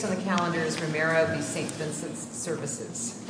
Based on the calendars, Romero v. St. Vincent's Services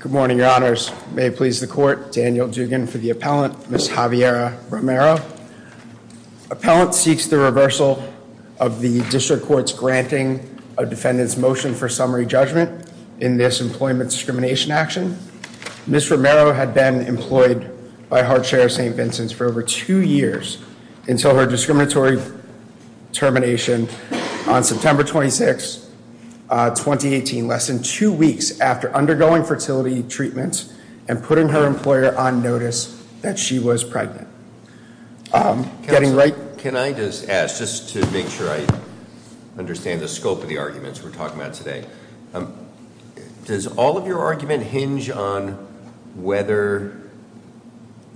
Good morning, your honors. May it please the court, Daniel Dugan for the appellant, Ms. Javiera Romero. Appellant seeks the reversal of the district court's granting a defendant's motion for summary judgment in this employment discrimination action. Ms. Romero had been employed by Hardshare St. Vincent's for over two years until her discriminatory termination on September 26, 2018, less than two weeks after undergoing fertility treatment and putting her employer on notice that she was pregnant. Getting right- Can I just ask, just to make sure I understand the scope of the arguments we're talking about today. Does all of your argument hinge on whether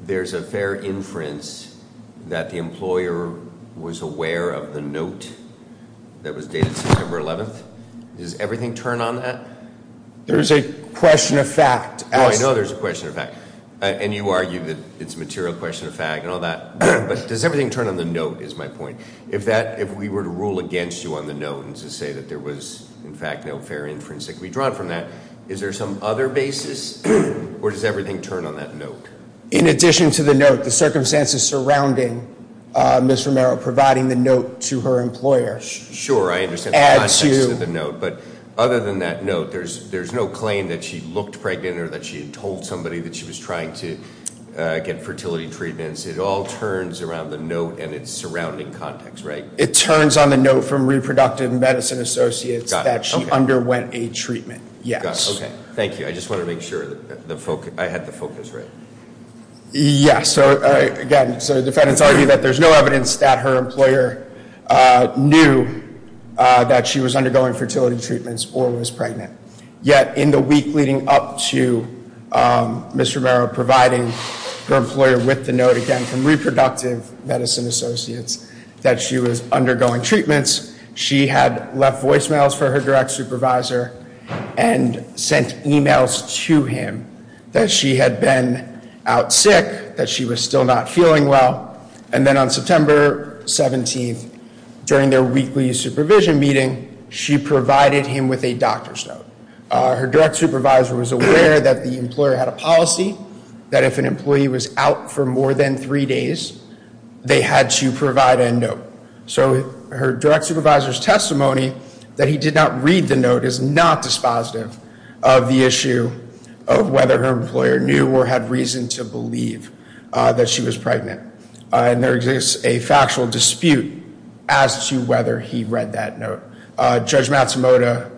there's a fair inference that the employer was aware of the note that was dated September 11th? Does everything turn on that? There's a question of fact. Oh, I know there's a question of fact, and you argue that it's a material question of fact and all that, but does everything turn on the note is my point. If we were to rule against you on the note and to say that there was, in fact, no fair inference that could be drawn from that, is there some other basis, or does everything turn on that note? In addition to the note, the circumstances surrounding Ms. Romero providing the note to her employer add to- That she had told somebody that she was trying to get fertility treatments. It all turns around the note and its surrounding context, right? It turns on the note from Reproductive Medicine Associates that she underwent a treatment, yes. Got it, okay. Thank you. I just wanted to make sure I had the focus right. Yeah, so again, the defendants argue that there's no evidence that her employer knew that she was undergoing fertility treatments or was pregnant. Yet, in the week leading up to Ms. Romero providing her employer with the note again from Reproductive Medicine Associates that she was undergoing treatments, she had left voicemails for her direct supervisor and sent emails to him that she had been out sick, that she was still not feeling well. And then on September 17th, during their weekly supervision meeting, she provided him with a doctor's note. Her direct supervisor was aware that the employer had a policy that if an employee was out for more than three days, they had to provide a note. So her direct supervisor's testimony that he did not read the note is not dispositive of the issue of whether her employer knew or had reason to believe that she was pregnant. And there exists a factual dispute as to whether he read that note. Judge Matsumoto,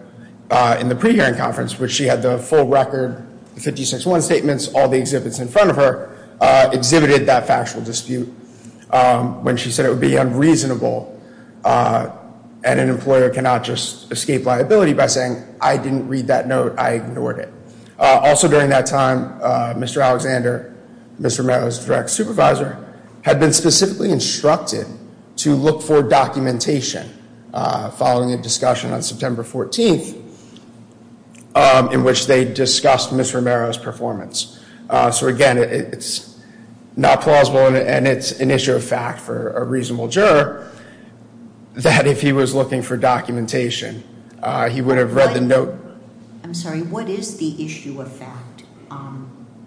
in the pre-hearing conference, where she had the full record, the 56-1 statements, all the exhibits in front of her, exhibited that factual dispute when she said it would be unreasonable and an employer cannot just escape liability by saying, I didn't read that note. I ignored it. Also during that time, Mr. Alexander, Ms. Romero's direct supervisor, had been specifically instructed to look for documentation following a discussion on September 14th in which they discussed Ms. Romero's performance. So again, it's not plausible and it's an issue of fact for a reasonable juror that if he was looking for documentation, he would have read the note. I'm sorry, what is the issue of fact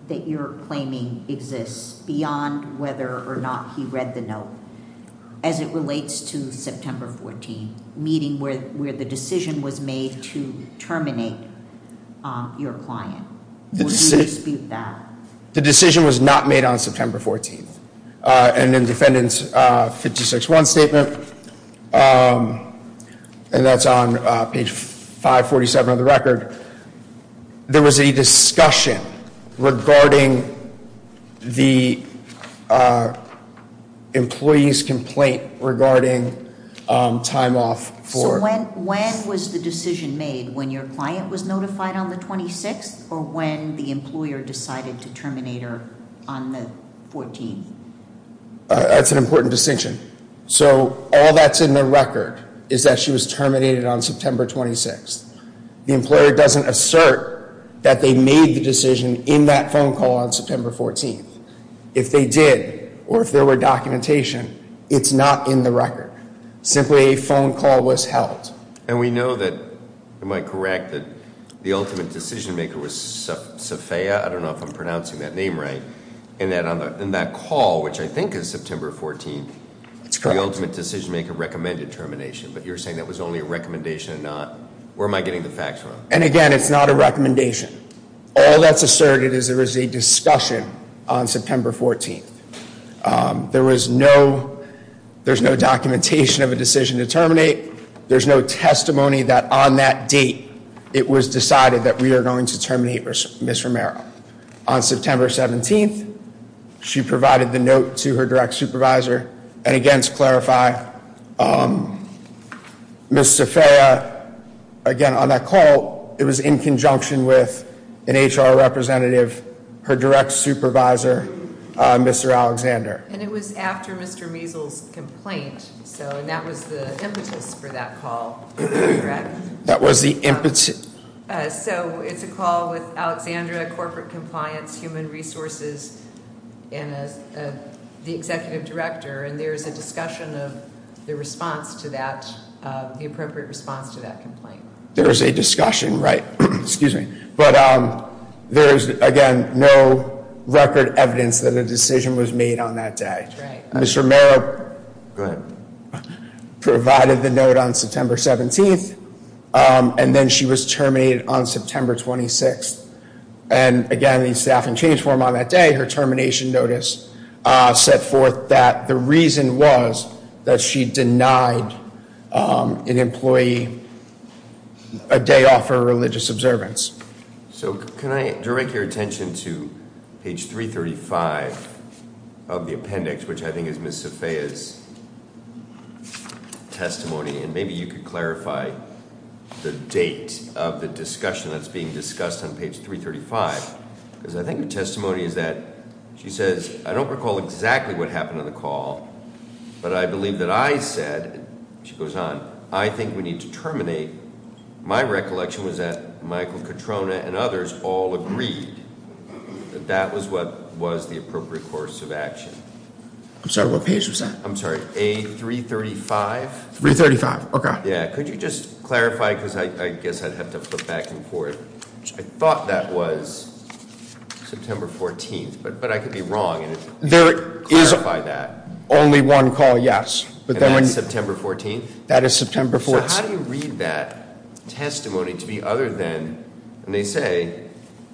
that you're claiming exists beyond whether or not he read the note as it relates to September 14th, meeting where the decision was made to terminate your client? Will you dispute that? The decision was not made on September 14th. And in defendant's 56-1 statement, and that's on page 547 of the record, there was a discussion regarding the employee's complaint regarding time off for- So when was the decision made, when your client was notified on the 26th or when the employer decided to terminate her on the 14th? That's an important distinction. So all that's in the record is that she was terminated on September 26th. The employer doesn't assert that they made the decision in that phone call on September 14th. If they did, or if there were documentation, it's not in the record. Simply a phone call was held. And we know that, am I correct, that the ultimate decision maker was Sophia? I don't know if I'm pronouncing that name right. And that call, which I think is September 14th- That's correct. The ultimate decision maker recommended termination, but you're saying that was only a recommendation and not, where am I getting the facts from? And again, it's not a recommendation. All that's asserted is there was a discussion on September 14th. There was no, there's no documentation of a decision to terminate. There's no testimony that on that date, it was decided that we are going to terminate Ms. Romero. On September 17th, she provided the note to her direct supervisor. And again, to clarify, Ms. Sophia, again, on that call, it was in conjunction with an HR representative, her direct supervisor, Mr. Alexander. And it was after Mr. Measles' complaint. So, and that was the impetus for that call, am I correct? That was the impetus. So, it's a call with Alexandra, Corporate Compliance, Human Resources, and the Executive Director. And there's a discussion of the response to that, the appropriate response to that complaint. There is a discussion, right. Excuse me. But there is, again, no record evidence that a decision was made on that day. Mr. Romero provided the note on September 17th. And then she was terminated on September 26th. And again, the staffing change form on that day, her termination notice, set forth that the reason was that she denied an employee a day off her religious observance. So, can I direct your attention to page 335 of the appendix, which I think is Ms. Sophia's testimony. And maybe you could clarify the date of the discussion that's being discussed on page 335. Because I think the testimony is that she says, I don't recall exactly what happened on the call. But I believe that I said, she goes on, I think we need to terminate. My recollection was that Michael Katrona and others all agreed that that was what was the appropriate course of action. I'm sorry, what page was that? I'm sorry, A335. 335, okay. Yeah, could you just clarify, because I guess I'd have to flip back and forth. I thought that was September 14th, but I could be wrong. There is only one call, yes. And that's September 14th? That is September 14th. So, how do you read that testimony to be other than, and they say,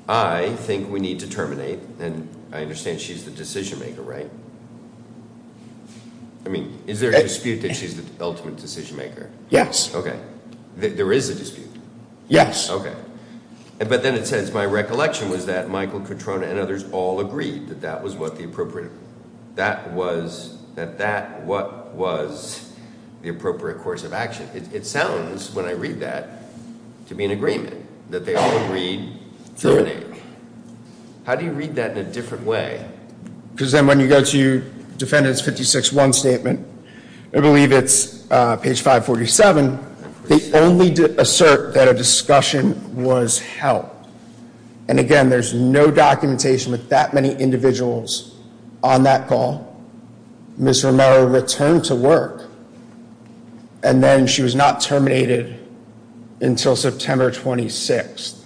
I think we need to terminate. And I understand she's the decision maker, right? I mean, is there a dispute that she's the ultimate decision maker? Yes. Okay. There is a dispute? Yes. Okay. But then it says, my recollection was that Michael Katrona and others all agreed that that was what the appropriate. That was, that that what was the appropriate course of action. It sounds, when I read that, to be an agreement. That they all agreed to terminate. How do you read that in a different way? Because then when you go to defendant's 56-1 statement, I believe it's page 547. They only assert that a discussion was held. And again, there's no documentation with that many individuals on that call. Ms. Romero returned to work. And then she was not terminated until September 26th.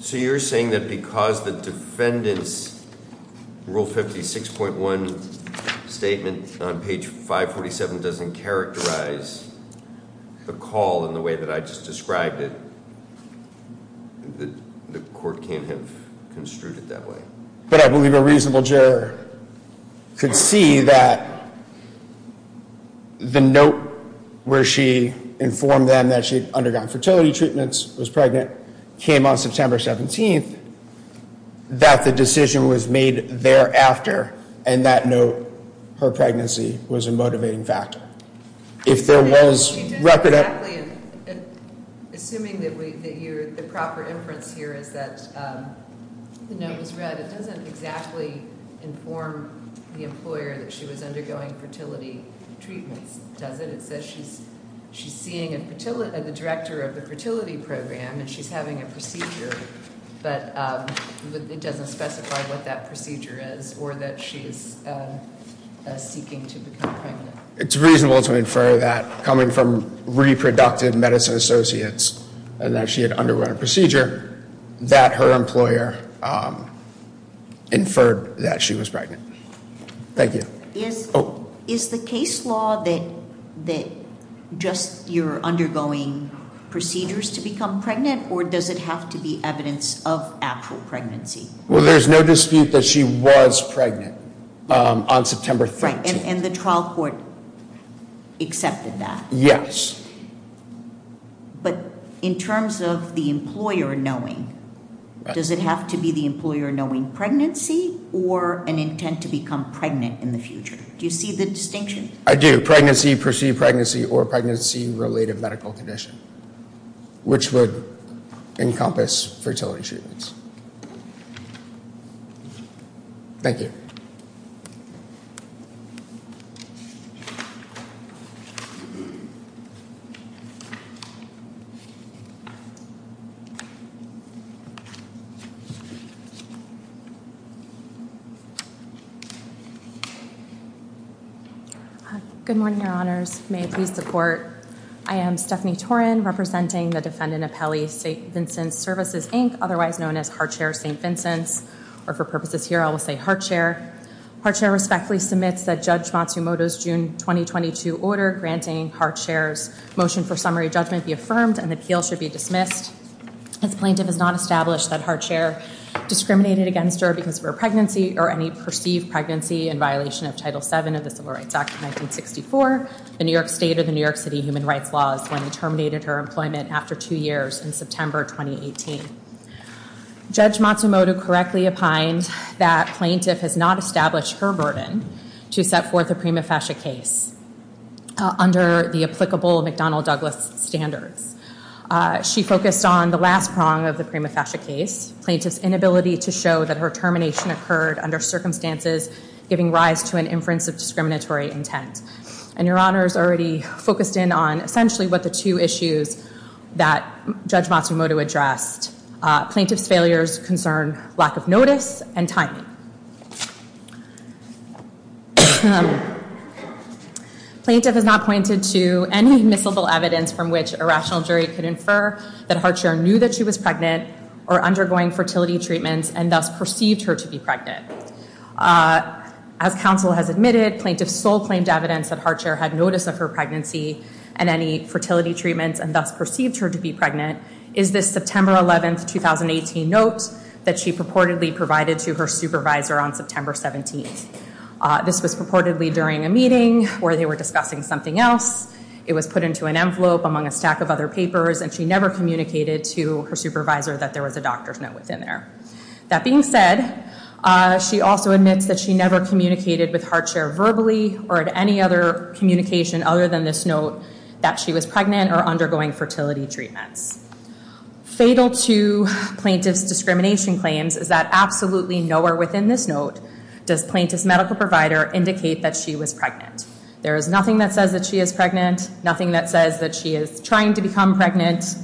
So you're saying that because the defendant's rule 56.1 statement on page 547 doesn't characterize the call in the way that I just described it, that the court can't have construed it that way? But I believe a reasonable juror could see that the note where she informed them that she'd undergone fertility treatments, was pregnant, came on September 17th. That the decision was made thereafter. And that note, her pregnancy, was a motivating factor. If there was, wrap it up. Assuming that the proper inference here is that the note was read. It doesn't exactly inform the employer that she was undergoing fertility treatments, does it? It says she's seeing the director of the fertility program, and she's having a procedure. But it doesn't specify what that procedure is, or that she's seeking to become pregnant. It's reasonable to infer that coming from reproductive medicine associates, and that she had undergone a procedure, that her employer inferred that she was pregnant. Thank you. Is the case law that just you're undergoing procedures to become pregnant, or does it have to be evidence of actual pregnancy? Well, there's no dispute that she was pregnant on September 13th. And the trial court accepted that? Yes. But in terms of the employer knowing, does it have to be the employer knowing pregnancy, or an intent to become pregnant in the future? Do you see the distinction? I do. Pregnancy, perceived pregnancy, or pregnancy-related medical condition. Which would encompass fertility treatments. Thank you. Good morning, Your Honors. May it please the Court. I am Stephanie Torin, representing the defendant appellee, St. Vincent's Services, Inc., otherwise known as Hartshare St. Vincent's. Or for purposes here, I will say Hartshare. Hartshare respectfully submits that Judge Matsumoto's June 2022 order granting Hartshare's motion for summary judgment be affirmed, and the appeal should be dismissed. As plaintiff has not established that Hartshare discriminated against her because of her pregnancy, or any perceived pregnancy in violation of Title VII of the Civil Rights Act of 1964, or the New York State or the New York City human rights laws when she terminated her employment after two years in September 2018. Judge Matsumoto correctly opined that plaintiff has not established her burden to set forth a prima facie case under the applicable McDonnell-Douglas standards. She focused on the last prong of the prima facie case, plaintiff's inability to show that her termination occurred under circumstances giving rise to an inference of discriminatory intent. And your honors already focused in on essentially what the two issues that Judge Matsumoto addressed. Plaintiff's failures concern lack of notice and timing. Plaintiff has not pointed to any miscible evidence from which a rational jury could infer that Hartshare knew that she was pregnant or undergoing fertility treatments and thus perceived her to be pregnant. As counsel has admitted, plaintiff's sole claimed evidence that Hartshare had notice of her pregnancy and any fertility treatments and thus perceived her to be pregnant, is this September 11th, 2018 note that she purportedly provided to her supervisor on September 17th. This was purportedly during a meeting where they were discussing something else. It was put into an envelope among a stack of other papers and she never communicated to her supervisor that there was a doctor's note within there. That being said, she also admits that she never communicated with Hartshare verbally or at any other communication other than this note that she was pregnant or undergoing fertility treatments. Fatal to plaintiff's discrimination claims is that absolutely nowhere within this note does plaintiff's medical provider indicate that she was pregnant. There is nothing that says that she is pregnant, nothing that says that she is trying to become pregnant.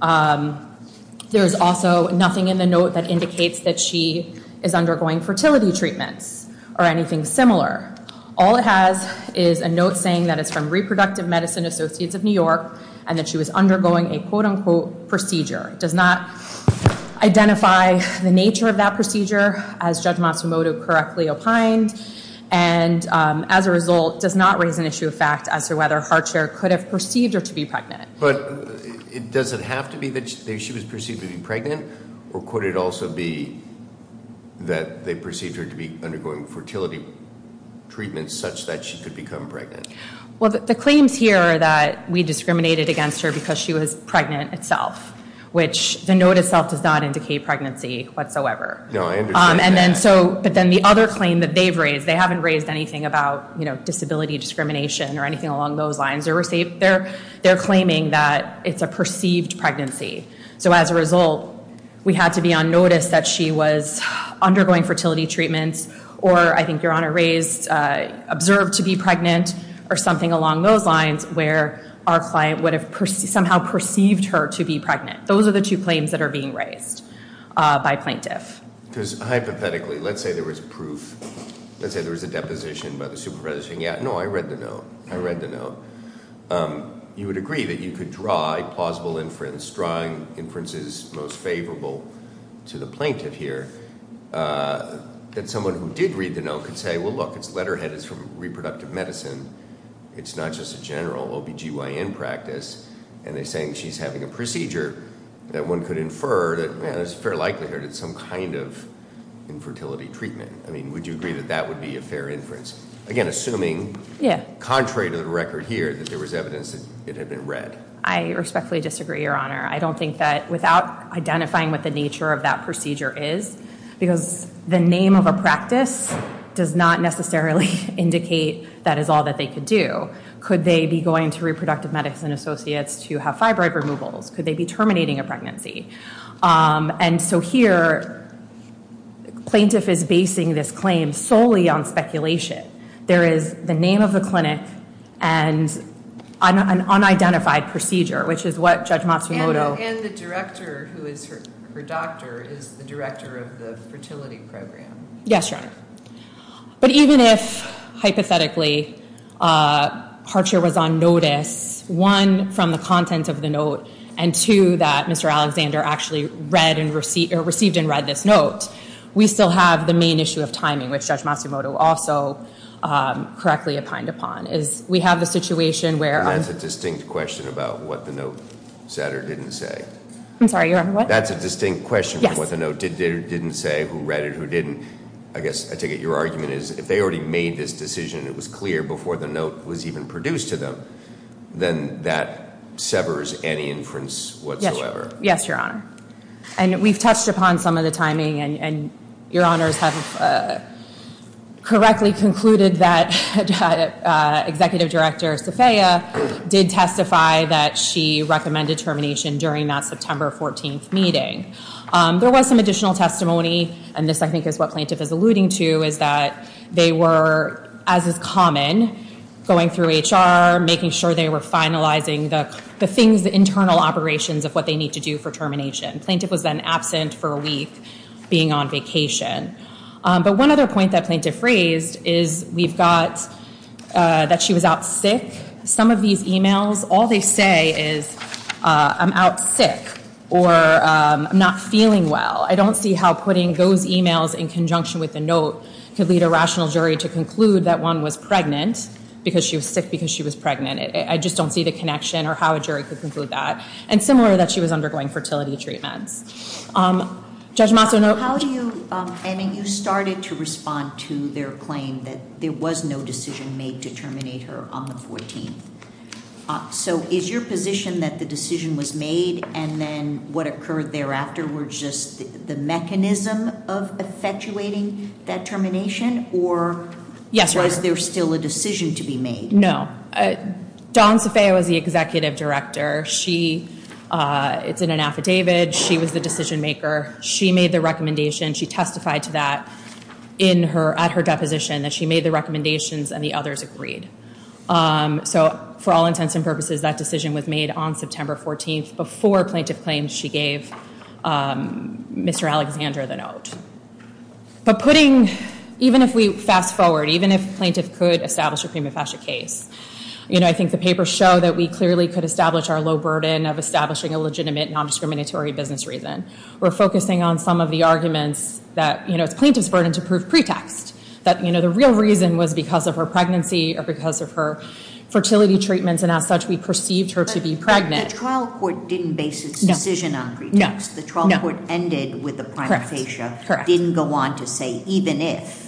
There is also nothing in the note that indicates that she is undergoing fertility treatments or anything similar. All it has is a note saying that it's from Reproductive Medicine Associates of New York and that she was undergoing a quote unquote procedure. It does not identify the nature of that procedure as Judge Matsumoto correctly opined and as a result, does not raise an issue of fact as to whether Hartshare could have perceived her to be pregnant. But does it have to be that she was perceived to be pregnant? Or could it also be that they perceived her to be undergoing fertility treatments such that she could become pregnant? Well, the claims here are that we discriminated against her because she was pregnant itself, which the note itself does not indicate pregnancy whatsoever. No, I understand that. But then the other claim that they've raised, they haven't raised anything about disability discrimination or anything along those lines. They're claiming that it's a perceived pregnancy. So as a result, we had to be on notice that she was undergoing fertility treatments or, I think Your Honor raised, observed to be pregnant or something along those lines where our client would have somehow perceived her to be pregnant. Those are the two claims that are being raised by plaintiff. Because hypothetically, let's say there was proof. Let's say there was a deposition by the supervisor saying, yeah, no, I read the note. I read the note. You would agree that you could draw a plausible inference, drawing inferences most favorable to the plaintiff here, that someone who did read the note could say, well, look, it's letterhead. It's from reproductive medicine. It's not just a general OB-GYN practice. And they're saying she's having a procedure that one could infer that there's a fair likelihood it's some kind of infertility treatment. I mean, would you agree that that would be a fair inference? Again, assuming- Yeah. Contrary to the record here that there was evidence that it had been read. I respectfully disagree, Your Honor. I don't think that without identifying what the nature of that procedure is, because the name of a practice does not necessarily indicate that is all that they could do. Could they be going to reproductive medicine associates to have fibroid removals? Could they be terminating a pregnancy? And so here, plaintiff is basing this claim solely on speculation. There is the name of the clinic and an unidentified procedure, which is what Judge Matsumoto- And the director who is her doctor is the director of the fertility program. Yes, Your Honor. But even if, hypothetically, Harcher was on notice, one, from the content of the note, and two, that Mr. Alexander actually read or received and read this note, we still have the main issue of timing, which Judge Matsumoto also correctly opined upon. We have the situation where- And that's a distinct question about what the note said or didn't say. I'm sorry, Your Honor, what? That's a distinct question from what the note did or didn't say, who read it, who didn't. I guess I take it your argument is if they already made this decision, it was clear before the note was even produced to them, then that severs any inference whatsoever. Yes, Your Honor. And we've touched upon some of the timing, and Your Honors have correctly concluded that Executive Director Safeya did testify There was some additional testimony, and this, I think, is what Plaintiff is alluding to, is that they were, as is common, going through HR, making sure they were finalizing the things, the internal operations of what they need to do for termination. Plaintiff was then absent for a week, being on vacation. But one other point that Plaintiff raised is we've got that she was out sick. Some of these e-mails, all they say is, I'm out sick, or I'm not feeling well. I don't see how putting those e-mails in conjunction with the note could lead a rational jury to conclude that one was pregnant because she was sick, because she was pregnant. I just don't see the connection or how a jury could conclude that. And similar, that she was undergoing fertility treatments. Judge Maso, note. You started to respond to their claim that there was no decision made to terminate her on the 14th. So is your position that the decision was made and then what occurred thereafter were just the mechanism of effectuating that termination? Or was there still a decision to be made? No. Dawn Safeya was the Executive Director. It's in an affidavit. She was the decision maker. She made the recommendation. She testified to that at her deposition that she made the recommendations and the others agreed. So for all intents and purposes, that decision was made on September 14th before Plaintiff claimed she gave Mr. Alexander the note. But putting, even if we fast forward, even if Plaintiff could establish a prima facie case, I think the papers show that we clearly could establish our low burden of establishing a legitimate nondiscriminatory business reason. We're focusing on some of the arguments that it's Plaintiff's burden to prove pretext. That the real reason was because of her pregnancy or because of her fertility treatments and as such we perceived her to be pregnant. But the trial court didn't base its decision on pretext. The trial court ended with a prima facie. Correct. Didn't go on to say even if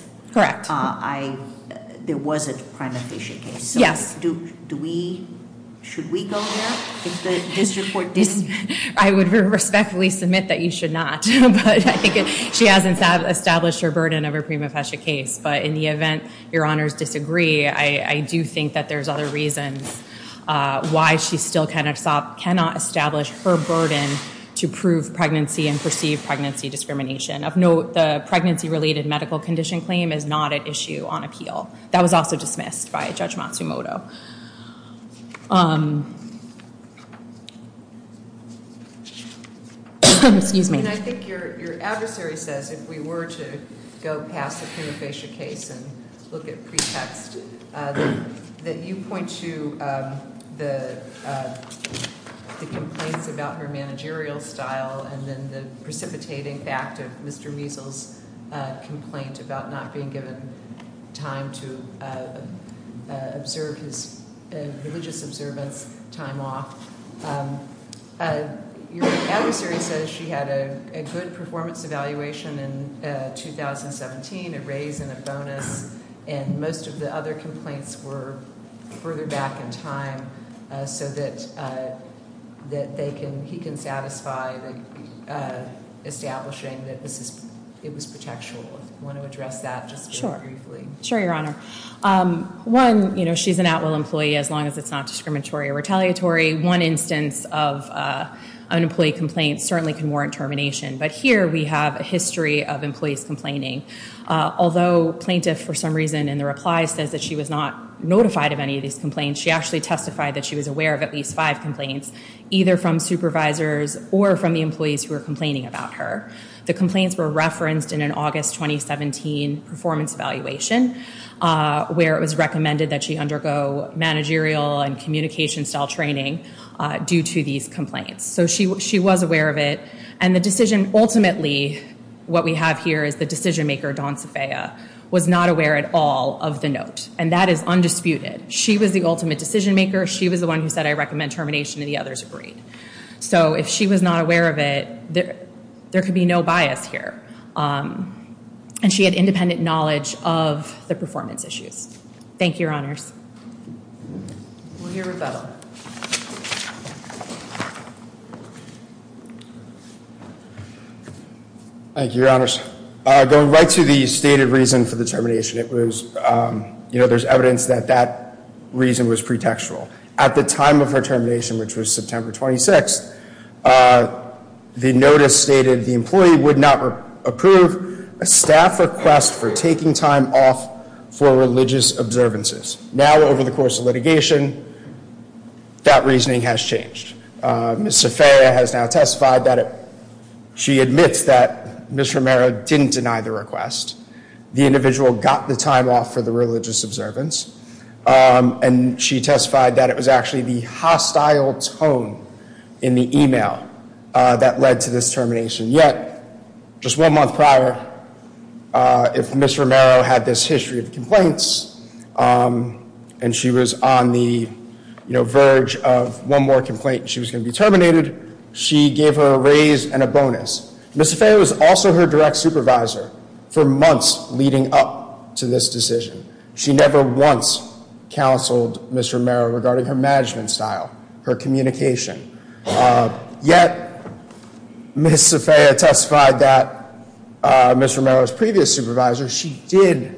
there was a prima facie case. Yes. Should we go there if the district court didn't? I would respectfully submit that you should not. But I think she has established her burden of her prima facie case. But in the event your honors disagree, I do think that there's other reasons why she still cannot establish her burden to prove pregnancy and perceive pregnancy discrimination. Of note, the pregnancy related medical condition claim is not at issue on appeal. That was also dismissed by Judge Matsumoto. Excuse me. I think your adversary says if we were to go past the prima facie case and look at pretext that you point to the complaints about her managerial style and then the precipitating fact of Mr. Measles' complaint about not being given time to observe his religious observance time off. Your adversary says she had a good performance evaluation in 2017, a raise and a bonus, and most of the other complaints were further back in time so that he can satisfy establishing that it was pretextual. Do you want to address that just very briefly? Sure. Sure, your honor. One, she's an at-will employee as long as it's not discriminatory or retaliatory. One instance of an employee complaint certainly can warrant termination, but here we have a history of employees complaining. Although plaintiff, for some reason in the reply, says that she was not notified of any of these complaints, she actually testified that she was aware of at least five complaints, either from supervisors or from the employees who were complaining about her. The complaints were referenced in an August 2017 performance evaluation where it was recommended that she undergo managerial and communication-style training due to these complaints. So she was aware of it, and the decision ultimately, what we have here is the decision-maker, Dawn Safeya, was not aware at all of the note, and that is undisputed. She was the ultimate decision-maker. She was the one who said, I recommend termination, and the others agreed. So if she was not aware of it, there could be no bias here. And she had independent knowledge of the performance issues. Thank you, Your Honors. We'll hear rebuttal. Thank you, Your Honors. Going right to the stated reason for the termination, it was, you know, there's evidence that that reason was pretextual. At the time of her termination, which was September 26th, the notice stated the employee would not approve a staff request for taking time off for religious observances. Now, over the course of litigation, that reasoning has changed. Ms. Safeya has now testified that she admits that Ms. Romero didn't deny the request. The individual got the time off for the religious observance, and she testified that it was actually the hostile tone in the email that led to this termination. Yet, just one month prior, if Ms. Romero had this history of complaints and she was on the, you know, verge of one more complaint and she was going to be terminated, she gave her a raise and a bonus. Ms. Safeya was also her direct supervisor for months leading up to this decision. She never once counseled Ms. Romero regarding her management style, her communication. Yet, Ms. Safeya testified that Ms. Romero's previous supervisor, she did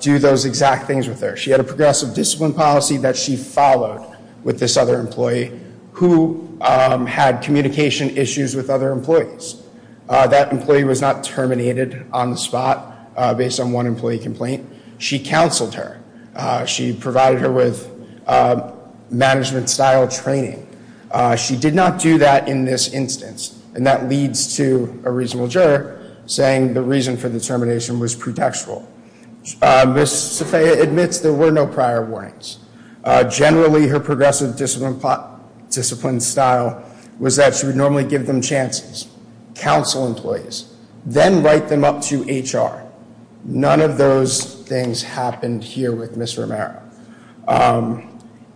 do those exact things with her. She had a progressive discipline policy that she followed with this other employee who had communication issues with other employees. That employee was not terminated on the spot based on one employee complaint. She counseled her. She provided her with management style training. She did not do that in this instance. And that leads to a reasonable juror saying the reason for the termination was pretextual. Ms. Safeya admits there were no prior warnings. Generally, her progressive discipline style was that she would normally give them chances. Counsel employees. Then write them up to HR. None of those things happened here with Ms. Romero.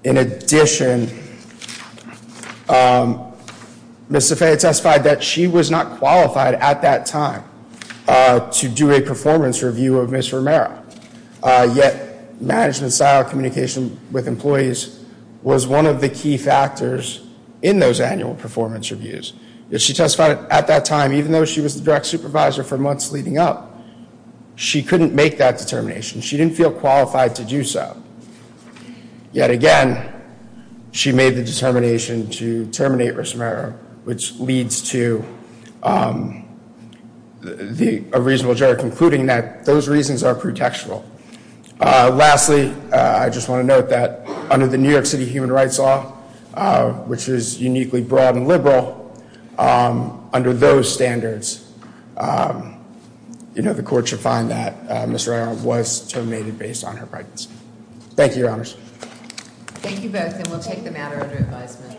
In addition, Ms. Safeya testified that she was not qualified at that time to do a performance review of Ms. Romero. Yet, management style communication with employees was one of the key factors in those annual performance reviews. Yet, she testified at that time, even though she was the direct supervisor for months leading up, she couldn't make that determination. She didn't feel qualified to do so. Yet again, she made the determination to terminate Ms. Romero, which leads to a reasonable juror concluding that those reasons are pretextual. Lastly, I just want to note that under the New York City Human Rights Law, which is uniquely broad and liberal, under those standards, the court should find that Ms. Romero was terminated based on her practice. Thank you, Your Honors. Thank you both, and we'll take the matter under advisement.